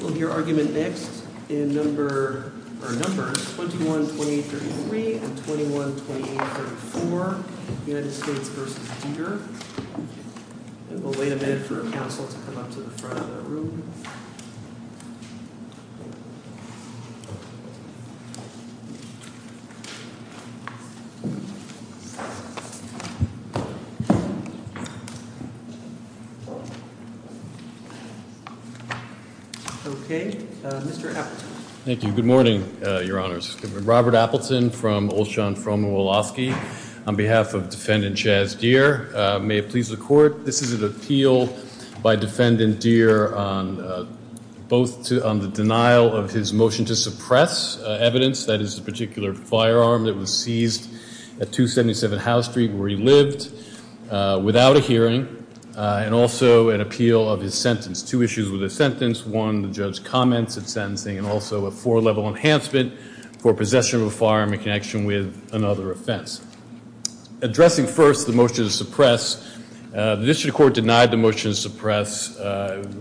We'll hear argument next in numbers 21, 28, 33 and 21, 28, 34, United States v. Dear. And we'll wait a minute for a council to come up to the front of the room. Okay. Mr. Appleton. Thank you. Good morning, Your Honors. Robert Appleton from Olshan Froma Wolofsky on behalf of Defendant Chaz Dear. May it please the Court, this is an appeal by Defendant Dear on both on the denial of his motion to suppress evidence, that is a particular firearm that was seized at 277 Howe Street where he lived without a hearing, and also an appeal of his sentence. Two issues with his sentence, one the judge's comments of sentencing and also a four-level enhancement for possession of a firearm in connection with another offense. Addressing first the motion to suppress, the district court denied the motion to suppress.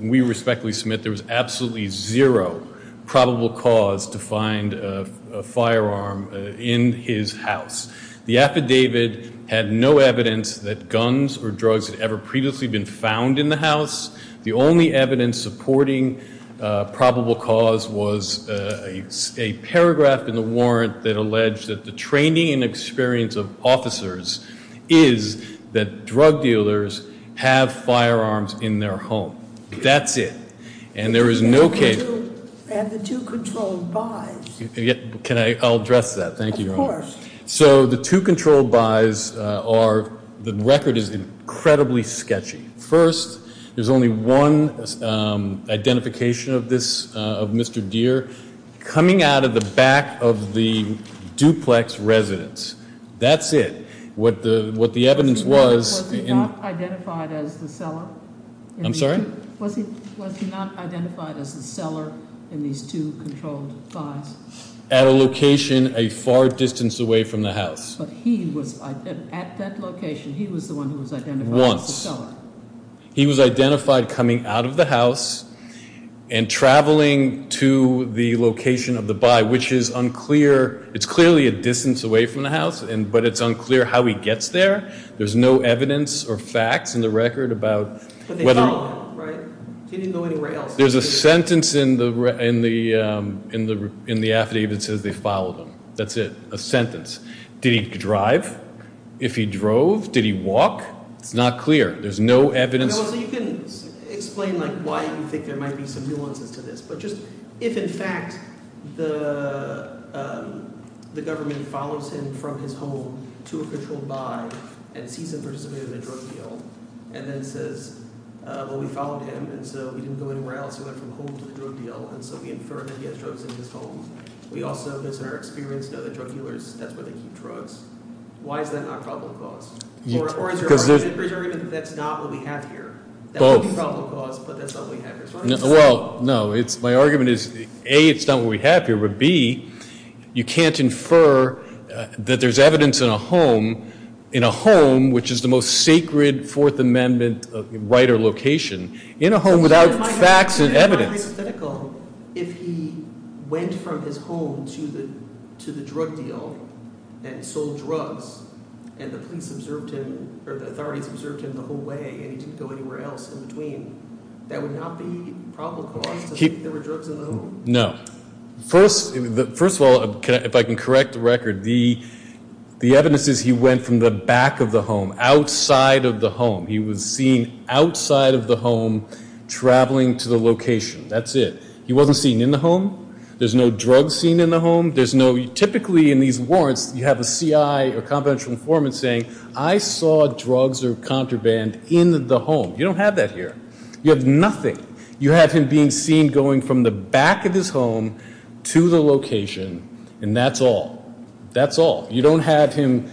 We respectfully submit there was absolutely zero probable cause to find a firearm in his house. The affidavit had no evidence that guns or drugs had ever previously been found in the house. The only evidence supporting probable cause was a paragraph in the warrant that alleged that the training and experience of officers is that drug dealers have firearms in their home. That's it. And there is no case. And the two controlled buys. Can I address that? Thank you, Your Honor. Of course. So the two controlled buys are, the record is incredibly sketchy. First, there's only one identification of this, of Mr. Dear, coming out of the back of the duplex residence. That's it. What the evidence was... Was he not identified as the seller? I'm sorry? Was he not identified as the seller in these two controlled buys? At a location a far distance away from the house. But he was at that location, he was the one who was identified as the seller. Once. He was identified coming out of the house and traveling to the location of the buy, which is unclear. It's clearly a distance away from the house, but it's unclear how he gets there. There's no evidence or facts in the record about whether... But they followed him, right? He didn't go anywhere else. There's a sentence in the affidavit that says they followed him. That's it. A sentence. Did he drive? If he drove, did he walk? It's not clear. There's no evidence. So you can explain, like, why you think there might be some nuances to this. But just, if in fact the government follows him from his home to a controlled buy and sees him participating in a drug deal, and then says, well, we followed him, and so he didn't go anywhere else. He went from home to the drug deal, and so we infer that he has drugs in his home. We also, based on our experience, know that drug dealers, that's where they keep drugs. Why is that not probable cause? Or is your argument that that's not what we have here? Both. That would be probable cause, but that's not what we have here. Well, no. My argument is, A, it's not what we have here. You can't infer that there's evidence in a home, which is the most sacred Fourth Amendment right or location, in a home without facts and evidence. If he went from his home to the drug deal and sold drugs, and the police observed him, or the authorities observed him the whole way, and he didn't go anywhere else in between, that would not be probable cause to think there were drugs in his home? No. First of all, if I can correct the record, the evidence is he went from the back of the home, outside of the home. He was seen outside of the home, traveling to the location. That's it. He wasn't seen in the home. There's no drugs seen in the home. There's no, typically in these warrants, you have a C.I. or confidential informant saying, I saw drugs or contraband in the home. You don't have that here. You have nothing. You have him being seen going from the back of his home to the location, and that's all. That's all. You don't have him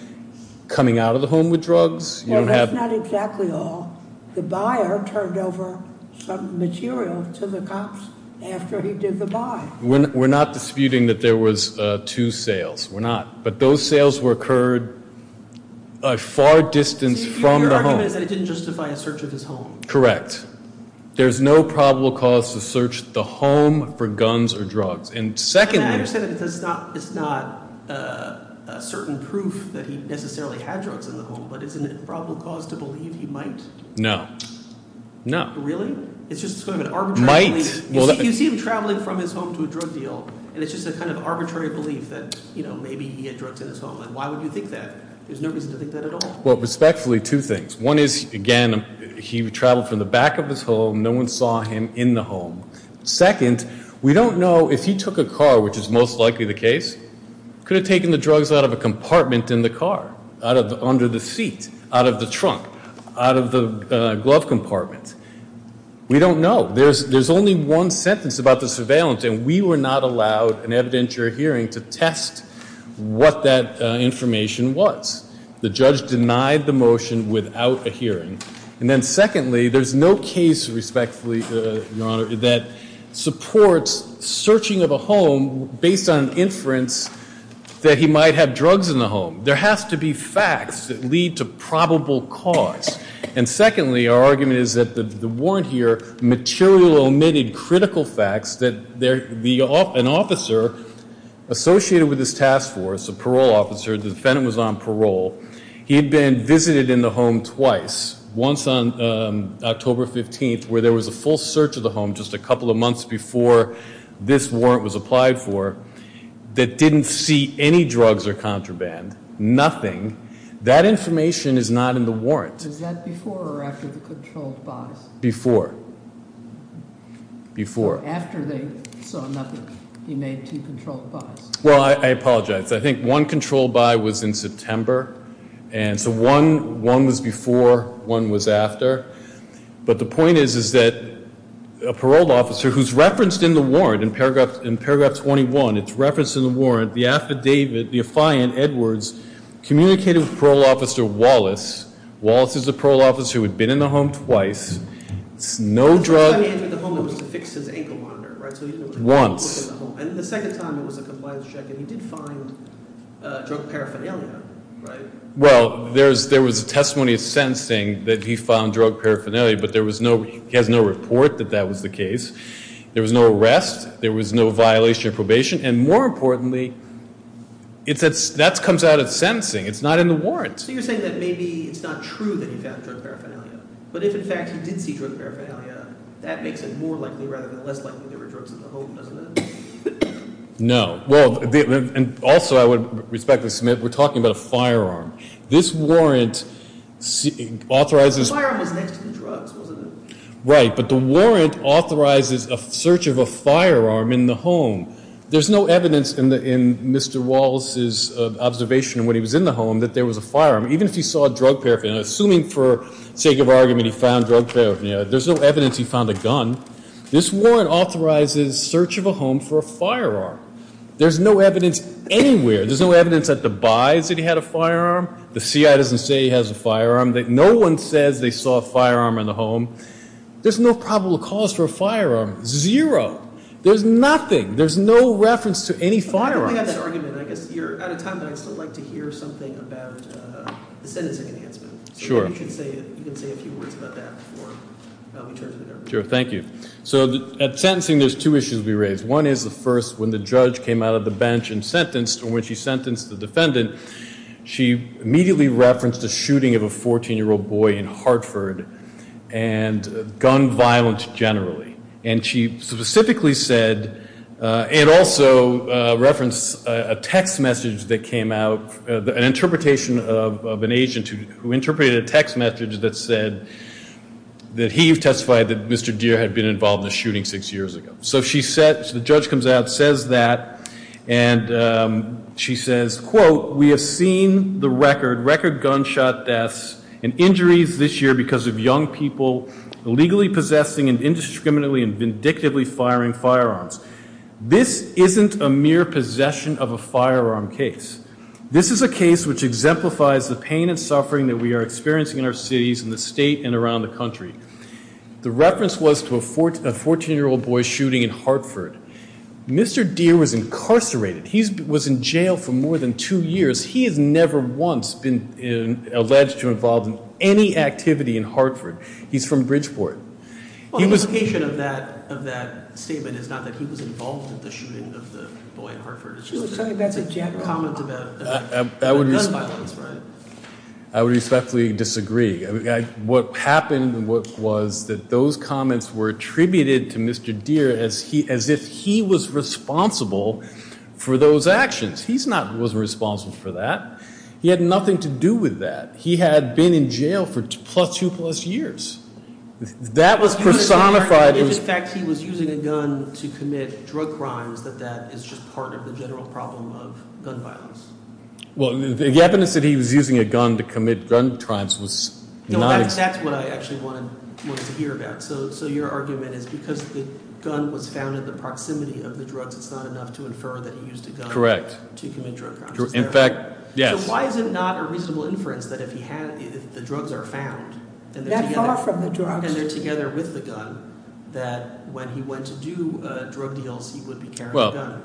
coming out of the home with drugs. Well, that's not exactly all. The buyer turned over some material to the cops after he did the buy. We're not disputing that there was two sales. We're not. But those sales were occurred a far distance from the home. Your argument is that it didn't justify a search of his home. Correct. There's no probable cause to search the home for guns or drugs. And secondly— I understand it's not a certain proof that he necessarily had drugs in the home, but isn't it probable cause to believe he might? No. No. Really? It's just sort of an arbitrary belief. Might. You see him traveling from his home to a drug deal, and it's just a kind of arbitrary belief that, you know, maybe he had drugs in his home. Why would you think that? There's no reason to think that at all. Well, respectfully, two things. One is, again, he traveled from the back of his home. No one saw him in the home. Second, we don't know if he took a car, which is most likely the case, could have taken the drugs out of a compartment in the car, under the seat, out of the trunk, out of the glove compartment. We don't know. There's only one sentence about the surveillance, and we were not allowed in evidence you're hearing to test what that information was. The judge denied the motion without a hearing. And then secondly, there's no case, respectfully, Your Honor, that supports searching of a home based on inference that he might have drugs in the home. There has to be facts that lead to probable cause. And secondly, our argument is that the warrant here material omitted critical facts that an officer associated with this task force, a parole officer, the defendant was on parole. He had been visited in the home twice, once on October 15th, where there was a full search of the home just a couple of months before this warrant was applied for, that didn't see any drugs or contraband, nothing. That information is not in the warrant. Was that before or after the controlled buys? Before. Before. After they saw nothing, he made two controlled buys. Well, I apologize. I think one controlled buy was in September, and so one was before, one was after. But the point is, is that a parole officer who's referenced in the warrant, in paragraph 21, it's referenced in the warrant, the affidavit, the affiant, Edwards, communicated with parole officer Wallace. Wallace is a parole officer who had been in the home twice. It's no drug. The first time he entered the home, it was to fix his ankle monitor, right? Once. And the second time it was a compliance check, and he did find drug paraphernalia, right? Well, there was a testimony of sentencing that he found drug paraphernalia, but he has no report that that was the case. There was no arrest. There was no violation of probation. And more importantly, that comes out of sentencing. It's not in the warrant. So you're saying that maybe it's not true that he found drug paraphernalia, but if, in fact, he did see drug paraphernalia, that makes it more likely rather than less likely there were drugs in the home, doesn't it? No. Well, and also I would respectfully submit we're talking about a firearm. This warrant authorizes. The firearm was next to the drugs, wasn't it? Right. But the warrant authorizes a search of a firearm in the home. There's no evidence in Mr. Wallace's observation when he was in the home that there was a firearm. Even if he saw drug paraphernalia, assuming for sake of argument he found drug paraphernalia, there's no evidence he found a gun. This warrant authorizes search of a home for a firearm. There's no evidence anywhere. There's no evidence at the buys that he had a firearm. The CIA doesn't say he has a firearm. No one says they saw a firearm in the home. There's no probable cause for a firearm, zero. There's nothing. There's no reference to any firearms. I think we have that argument. I guess you're out of time, but I'd still like to hear something about the sentencing enhancement. Sure. You can say a few words about that before we turn to the jury. Sure. Thank you. So at sentencing there's two issues to be raised. One is the first, when the judge came out of the bench and sentenced, and when she sentenced the defendant she immediately referenced a shooting of a 14-year-old boy in Hartford, and gun violence generally. And she specifically said, and also referenced a text message that came out, an interpretation of an agent who interpreted a text message that said that he testified that Mr. Deere had been involved in a shooting six years ago. So the judge comes out, says that, and she says, quote, we have seen the record, record gunshot deaths and injuries this year because of young people illegally possessing and indiscriminately and vindictively firing firearms. This isn't a mere possession of a firearm case. This is a case which exemplifies the pain and suffering that we are experiencing in our cities and the state and around the country. The reference was to a 14-year-old boy shooting in Hartford. Mr. Deere was incarcerated. He was in jail for more than two years. He has never once been alleged to have been involved in any activity in Hartford. He's from Bridgeport. The implication of that statement is not that he was involved in the shooting of the boy in Hartford. That's a comment about gun violence, right? I would respectfully disagree. What happened was that those comments were attributed to Mr. Deere as if he was responsible for those actions. He wasn't responsible for that. He had nothing to do with that. He had been in jail for plus two plus years. That was personified. If, in fact, he was using a gun to commit drug crimes, that that is just part of the general problem of gun violence. Well, the evidence that he was using a gun to commit gun crimes was not – That's what I actually wanted to hear about. So your argument is because the gun was found in the proximity of the drugs, it's not enough to infer that he used a gun to commit drug crimes. In fact, yes. Why is it not a reasonable inference that if he had – if the drugs are found and they're together with the gun, that when he went to do drug deals, he would be carrying a gun? Well,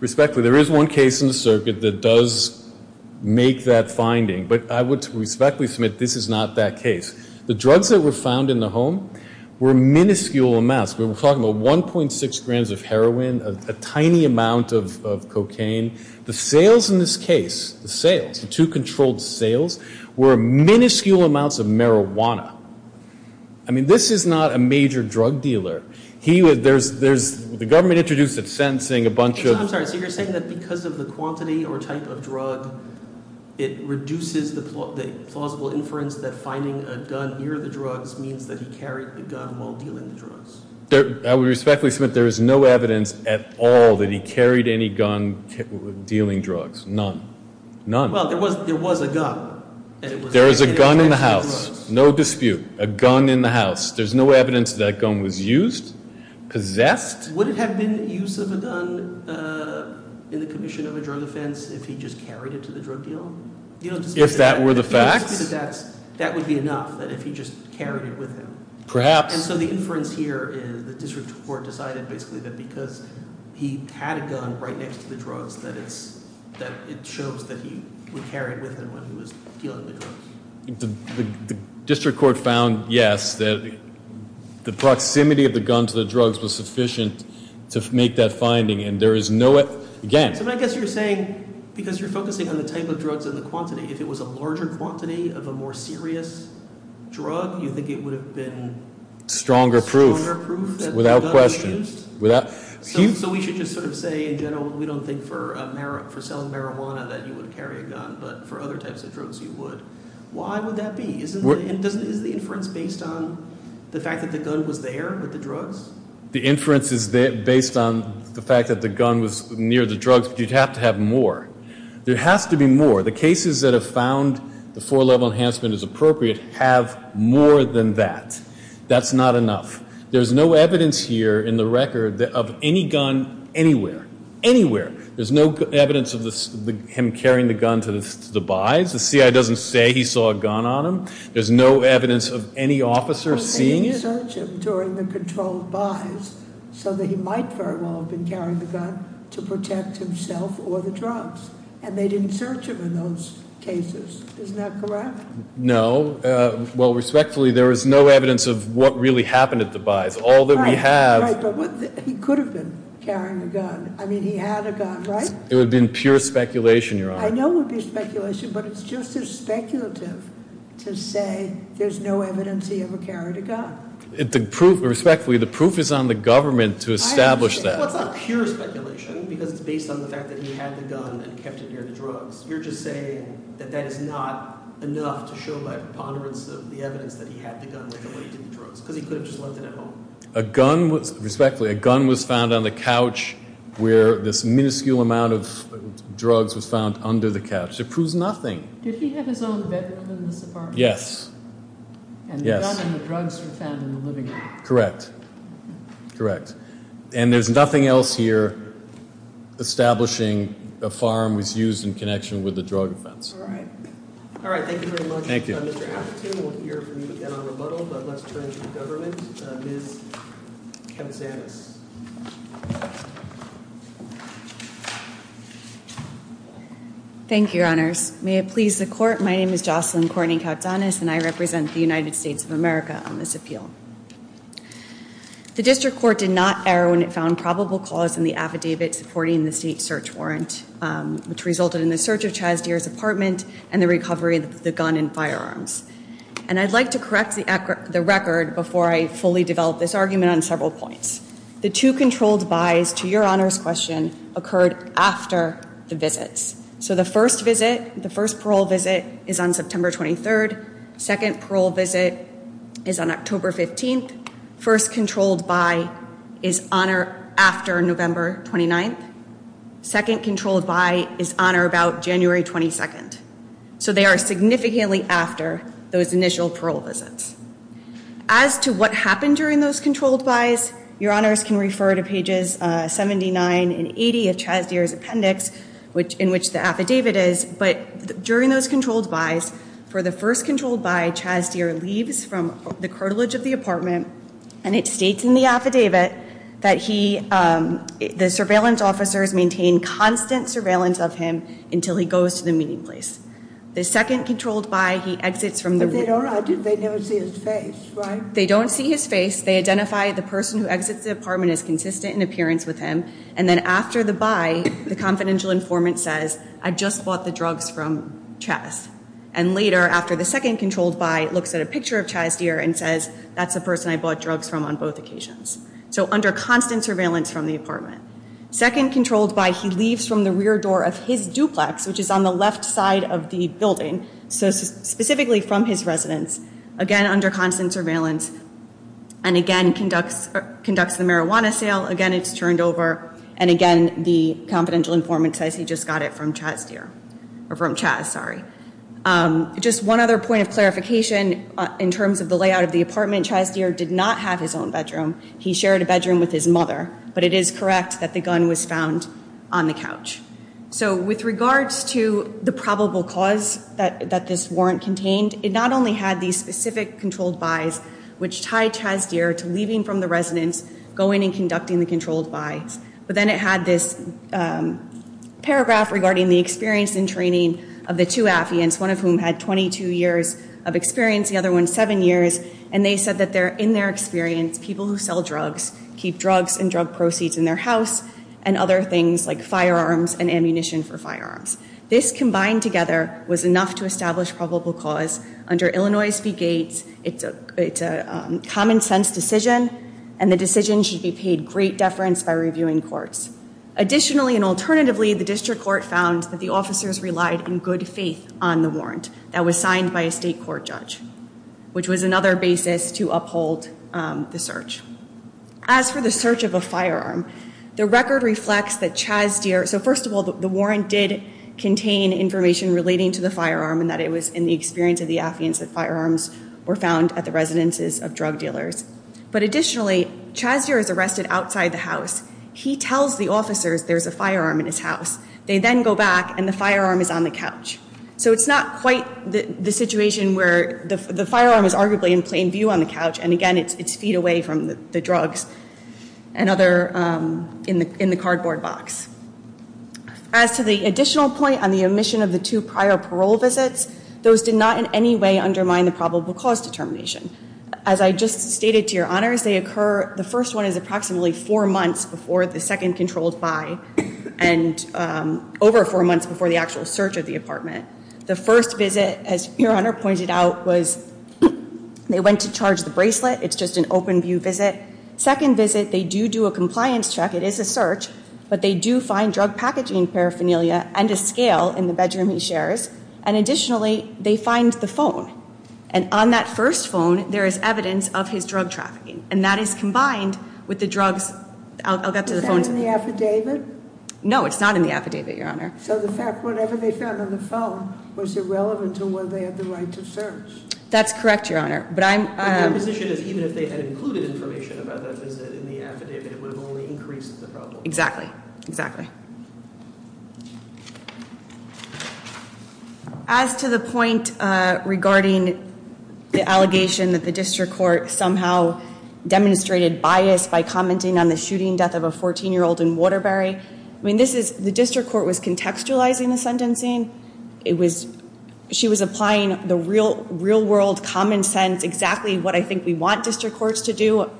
respectfully, there is one case in the circuit that does make that finding. But I would respectfully submit this is not that case. The drugs that were found in the home were minuscule amounts. We're talking about 1.6 grams of heroin, a tiny amount of cocaine. The sales in this case, the sales, the two controlled sales, were minuscule amounts of marijuana. I mean, this is not a major drug dealer. He would – there's – the government introduced it sentencing a bunch of – I'm sorry. So you're saying that because of the quantity or type of drug, it reduces the plausible inference that finding a gun near the drugs means that he carried the gun while dealing the drugs? I would respectfully submit there is no evidence at all that he carried any gun dealing drugs. None. None. Well, there was a gun. There was a gun in the house. No dispute. A gun in the house. There's no evidence that gun was used, possessed. Would it have been use of a gun in the commission of a drug offense if he just carried it to the drug deal? If that were the facts? That would be enough that if he just carried it with him. Perhaps. And so the inference here is the district court decided basically that because he had a gun right next to the drugs that it's – that it shows that he would carry it with him when he was dealing the drugs. The district court found, yes, that the proximity of the gun to the drugs was sufficient to make that finding, and there is no – again. So I guess you're saying because you're focusing on the type of drugs and the quantity, if it was a larger quantity of a more serious drug, you think it would have been – Stronger proof. Stronger proof that the gun was used? Without question. So we should just sort of say in general we don't think for selling marijuana that you would carry a gun, but for other types of drugs you would. Why would that be? Isn't – is the inference based on the fact that the gun was there with the drugs? The inference is based on the fact that the gun was near the drugs, but you'd have to have more. There has to be more. The cases that have found the four-level enhancement is appropriate have more than that. That's not enough. There's no evidence here in the record of any gun anywhere. Anywhere. There's no evidence of him carrying the gun to the buys. The CIA doesn't say he saw a gun on him. There's no evidence of any officer seeing it. They didn't search him during the controlled buys so that he might very well have been carrying the gun to protect himself or the drugs, and they didn't search him in those cases. Isn't that correct? No. Well, respectfully, there is no evidence of what really happened at the buys. All that we have – Right, right, but he could have been carrying a gun. I mean, he had a gun, right? It would have been pure speculation, Your Honor. I know it would be speculation, but it's just as speculative to say there's no evidence he ever carried a gun. Respectfully, the proof is on the government to establish that. Well, it's not pure speculation because it's based on the fact that he had the gun and kept it near the drugs. You're just saying that that is not enough to show by preponderance of the evidence that he had the gun and kept it near the drugs because he could have just left it at home. Respectfully, a gun was found on the couch where this minuscule amount of drugs was found under the couch. It proves nothing. Did he have his own bedroom in this apartment? Yes, yes. And the gun and the drugs were found in the living room. Correct, correct. And there's nothing else here establishing a firearm was used in connection with a drug offense. All right. All right, thank you very much, Mr. Atherton. We'll hear from you again on rebuttal, but let's turn to the government. Ms. Koutsanis. Thank you, Your Honors. May it please the Court, my name is Jocelyn Courtney Koutsanis, and I represent the United States of America on this appeal. The district court did not err when it found probable cause in the affidavit supporting the state search warrant, which resulted in the search of Chaz Deer's apartment and the recovery of the gun and firearms. And I'd like to correct the record before I fully develop this argument on several points. The two controlled bys to Your Honors' question occurred after the visits. So the first visit, the first parole visit, is on September 23rd. Second parole visit is on October 15th. First controlled by is on or after November 29th. Second controlled by is on or about January 22nd. So they are significantly after those initial parole visits. As to what happened during those controlled bys, Your Honors can refer to pages 79 and 80 of Chaz Deer's appendix, in which the affidavit is, but during those controlled bys, for the first controlled by, Chaz Deer leaves from the cartilage of the apartment, and it states in the affidavit that he, the surveillance officers maintain constant surveillance of him until he goes to the meeting place. The second controlled by, he exits from the room. But they don't, they never see his face, right? They don't see his face. They identify the person who exits the apartment as consistent in appearance with him, and then after the by, the confidential informant says, I just bought the drugs from Chaz. And later, after the second controlled by, looks at a picture of Chaz Deer and says, that's the person I bought drugs from on both occasions. So under constant surveillance from the apartment. Second controlled by, he leaves from the rear door of his duplex, which is on the left side of the building, so specifically from his residence. Again, under constant surveillance. And again, conducts the marijuana sale. Again, it's turned over. And again, the confidential informant says he just got it from Chaz Deer. Or from Chaz, sorry. Just one other point of clarification, in terms of the layout of the apartment, Chaz Deer did not have his own bedroom. He shared a bedroom with his mother. But it is correct that the gun was found on the couch. So with regards to the probable cause that this warrant contained, it not only had these specific controlled bys, which tied Chaz Deer to leaving from the residence, going and conducting the controlled bys. But then it had this paragraph regarding the experience and training of the two Affians, one of whom had 22 years of experience, the other one seven years. And they said that in their experience, people who sell drugs keep drugs and drug proceeds in their house and other things like firearms and ammunition for firearms. This combined together was enough to establish probable cause. Under Illinois v. Gates, it's a common sense decision. And the decision should be paid great deference by reviewing courts. Additionally and alternatively, the district court found that the officers relied in good faith on the warrant that was signed by a state court judge. Which was another basis to uphold the search. As for the search of a firearm, the record reflects that Chaz Deer, so first of all, the warrant did contain information relating to the firearm and that it was in the experience of the Affians that firearms were found at the residences of drug dealers. But additionally, Chaz Deer is arrested outside the house. He tells the officers there's a firearm in his house. They then go back and the firearm is on the couch. So it's not quite the situation where the firearm is arguably in plain view on the couch and again, it's feet away from the drugs and other, in the cardboard box. As to the additional point on the omission of the two prior parole visits, those did not in any way undermine the probable cause determination. As I just stated to your honors, they occur, the first one is approximately four months before the second controlled by and over four months before the actual search of the apartment. The first visit, as your honor pointed out, was they went to charge the bracelet. It's just an open view visit. Second visit, they do do a compliance check. It is a search, but they do find drug packaging paraphernalia and a scale in the bedroom he shares. And additionally, they find the phone. And on that first phone, there is evidence of his drug trafficking. And that is combined with the drugs. I'll get to the phone. Is that in the affidavit? No, it's not in the affidavit, your honor. So the fact, whatever they found on the phone was irrelevant to whether they had the right to search. That's correct, your honor. But I'm- But your position is even if they had included information about that visit in the affidavit, it would have only increased the problem. Exactly. Exactly. As to the point regarding the allegation that the district court somehow demonstrated bias by commenting on the shooting death of a 14-year-old in Waterbury. I mean, this is, the district court was contextualizing the sentencing. It was, she was applying the real world common sense, exactly what I think we want district courts to do.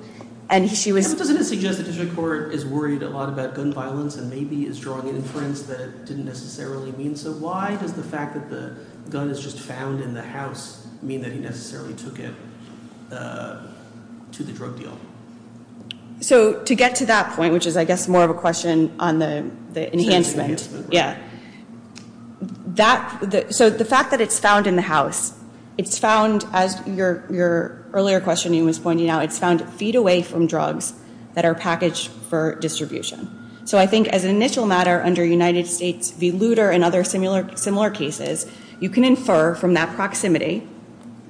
Doesn't it suggest that the district court is worried a lot about gun violence and maybe is drawing inference that it didn't necessarily mean so? Why does the fact that the gun is just found in the house mean that he necessarily took it to the drug deal? So to get to that point, which is I guess more of a question on the enhancement. The enhancement. Yeah. So the fact that it's found in the house, it's found as your earlier question was pointing out, it's found feet away from drugs that are packaged for distribution. So I think as an initial matter under United States v. Luder and other similar cases, you can infer from that proximity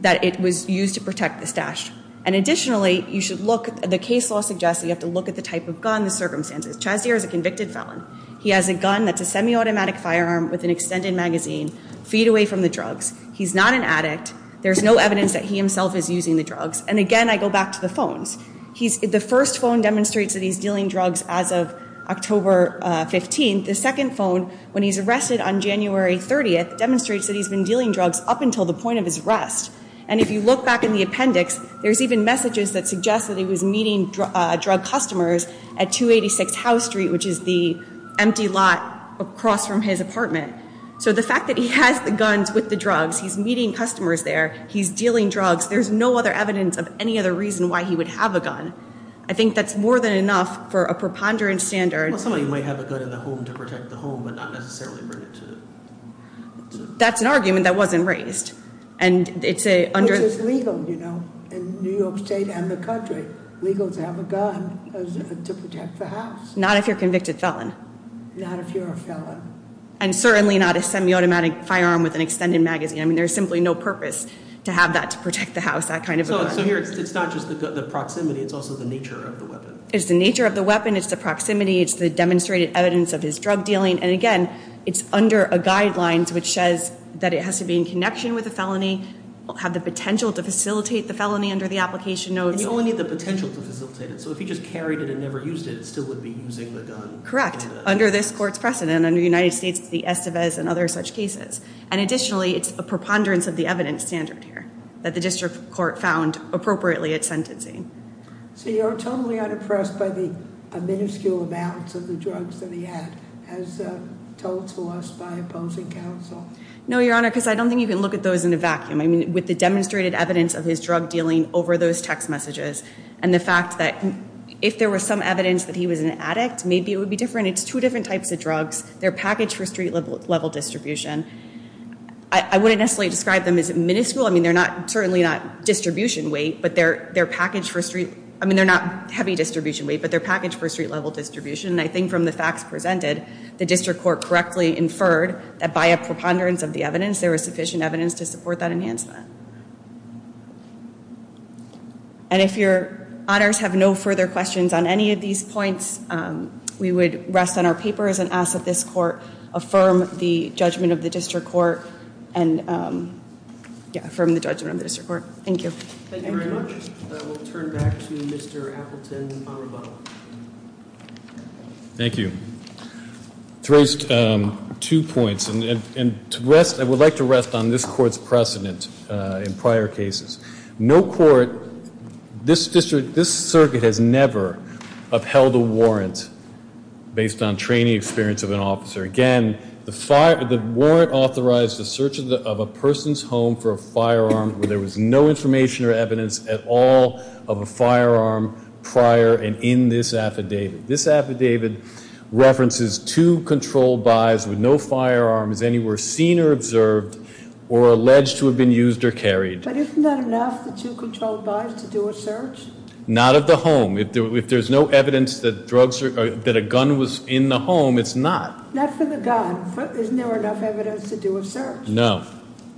that it was used to protect the stash. And additionally, you should look, the case law suggests that you have to look at the type of gun, the circumstances. Chazier is a convicted felon. He has a gun that's a semi-automatic firearm with an extended magazine, feet away from the drugs. He's not an addict. There's no evidence that he himself is using the drugs. And again, I go back to the phones. The first phone demonstrates that he's dealing drugs as of October 15th. The second phone, when he's arrested on January 30th, demonstrates that he's been dealing drugs up until the point of his arrest. And if you look back in the appendix, there's even messages that suggest that he was meeting drug customers at 286 House Street, which is the empty lot across from his apartment. So the fact that he has the guns with the drugs, he's meeting customers there, he's dealing drugs, there's no other evidence of any other reason why he would have a gun. I think that's more than enough for a preponderance standard. Well, somebody might have a gun in the home to protect the home, but not necessarily bring it to the… That's an argument that wasn't raised. Which is legal, you know, in New York State and the country. Legal to have a gun to protect the house. Not if you're a convicted felon. Not if you're a felon. And certainly not a semi-automatic firearm with an extended magazine. I mean, there's simply no purpose to have that to protect the house, that kind of a gun. So here, it's not just the proximity, it's also the nature of the weapon. It's the nature of the weapon, it's the proximity, it's the demonstrated evidence of his drug dealing. And again, it's under a guideline which says that it has to be in connection with a felony, have the potential to facilitate the felony under the application notes. And you only need the potential to facilitate it. So if he just carried it and never used it, it still would be using the gun. Correct. Under this court's precedent, under the United States, it's the Estevez and other such cases. And additionally, it's a preponderance of the evidence standard here that the district court found appropriately at sentencing. So you're totally unimpressed by the minuscule amounts of the drugs that he had, as told to us by opposing counsel? No, Your Honor, because I don't think you can look at those in a vacuum. I mean, with the demonstrated evidence of his drug dealing over those text messages and the fact that if there was some evidence that he was an addict, maybe it would be different. It's two different types of drugs. They're packaged for street-level distribution. I wouldn't necessarily describe them as minuscule. I mean, they're certainly not heavy distribution weight, but they're packaged for street-level distribution. And I think from the facts presented, the district court correctly inferred that by a preponderance of the evidence, there was sufficient evidence to support that enhancement. And if Your Honors have no further questions on any of these points, we would rest on our papers and ask that this court affirm the judgment of the district court and affirm the judgment of the district court. Thank you. Thank you very much. We'll turn back to Mr. Appleton on rebuttal. Thank you. Therese, two points, and I would like to rest on this court's precedent in prior cases. No court, this district, this circuit has never upheld a warrant based on training experience of an officer. Again, the warrant authorized the search of a person's home for a firearm where there was no information or evidence at all of a firearm prior and in this affidavit. This affidavit references two controlled buys with no firearms anywhere seen or observed or alleged to have been used or carried. But isn't that enough, the two controlled buys to do a search? Not of the home. If there's no evidence that a gun was in the home, it's not. Not for the gun. Isn't there enough evidence to do a search? No.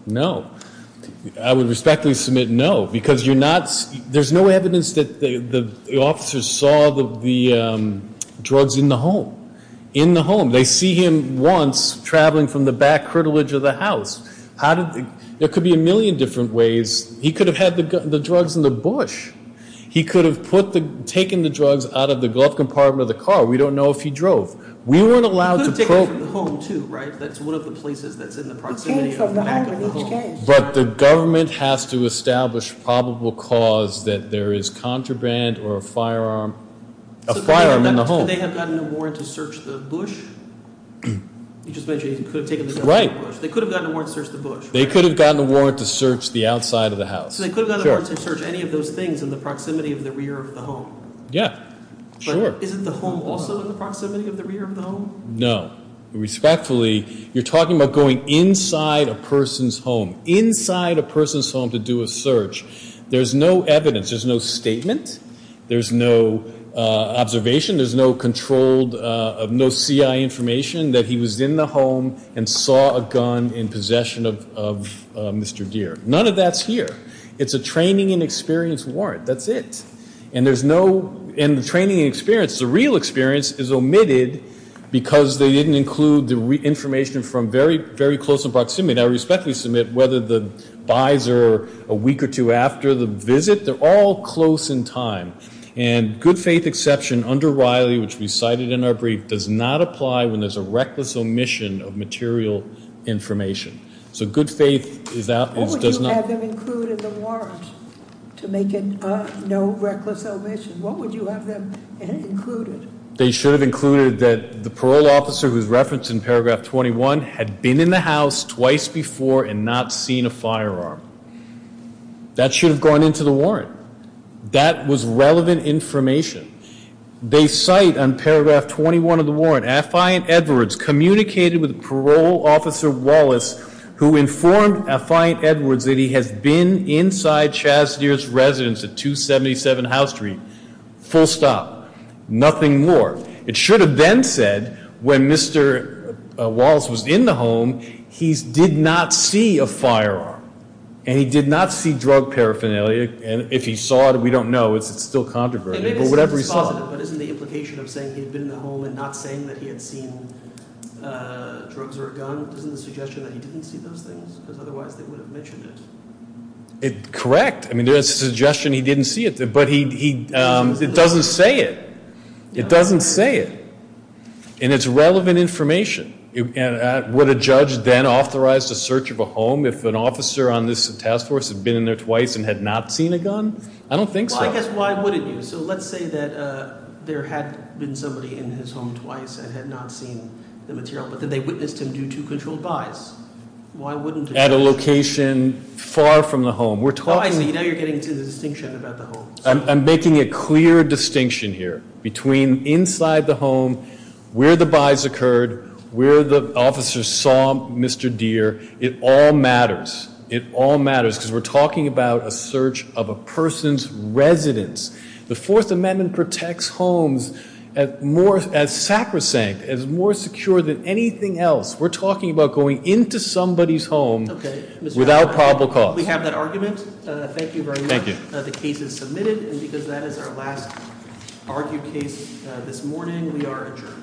No. I would respectfully submit no because there's no evidence that the officers saw the drugs in the home. In the home. They see him once traveling from the back curtilage of the house. There could be a million different ways. He could have had the drugs in the bush. He could have taken the drugs out of the glove compartment of the car. We don't know if he drove. We weren't allowed to probe. He could have taken it from the home, too, right? That's one of the places that's in the proximity of the back of the home. But the government has to establish probable cause that there is contraband or a firearm in the home. Could they have gotten a warrant to search the bush? You just mentioned he could have taken the gun from the bush. They could have gotten a warrant to search the bush. They could have gotten a warrant to search the outside of the house. They could have gotten a warrant to search any of those things in the proximity of the rear of the home. Yeah, sure. Isn't the home also in the proximity of the rear of the home? No. Respectfully, you're talking about going inside a person's home, inside a person's home to do a search. There's no evidence. There's no statement. There's no observation. There's no controlled, no CI information that he was in the home and saw a gun in possession of Mr. Deere. None of that's here. It's a training and experience warrant. That's it. And there's no training and experience. The real experience is omitted because they didn't include the information from very close in proximity. Now, respectfully submit whether the buys are a week or two after the visit. They're all close in time. And good faith exception under Riley, which we cited in our brief, does not apply when there's a reckless omission of material information. So good faith does not. What would you have them include in the warrant to make it no reckless omission? What would you have them included? They should have included that the parole officer who's referenced in paragraph 21 had been in the house twice before and not seen a firearm. That should have gone into the warrant. That was relevant information. They cite on paragraph 21 of the warrant, Affiant Edwards communicated with parole officer Wallace, who informed Affiant Edwards that he has been inside Chaz Deere's residence at 277 House Street. Full stop. Nothing more. It should have been said when Mr. Wallace was in the home, he did not see a firearm. And he did not see drug paraphernalia. If he saw it, we don't know. It's still controversial. But whatever he saw. But isn't the implication of saying he had been in the home and not saying that he had seen drugs or a gun, isn't the suggestion that he didn't see those things? Because otherwise they would have mentioned it. Correct. I mean, there's a suggestion he didn't see it. But it doesn't say it. It doesn't say it. And it's relevant information. Would a judge then authorize the search of a home if an officer on this task force had been in there twice and had not seen a gun? I don't think so. Well, I guess why wouldn't you? So let's say that there had been somebody in his home twice and had not seen the material. But then they witnessed him do two controlled buys. Why wouldn't the judge? At a location far from the home. Oh, I see. Now you're getting to the distinction about the home. I'm making a clear distinction here between inside the home, where the buys occurred, where the officer saw Mr. Deere. It all matters. It all matters because we're talking about a search of a person's residence. The Fourth Amendment protects homes as sacrosanct, as more secure than anything else. We're talking about going into somebody's home without probable cause. We have that argument. Thank you very much. The case is submitted. And because that is our last argued case this morning, we are adjourned. Court is adjourned.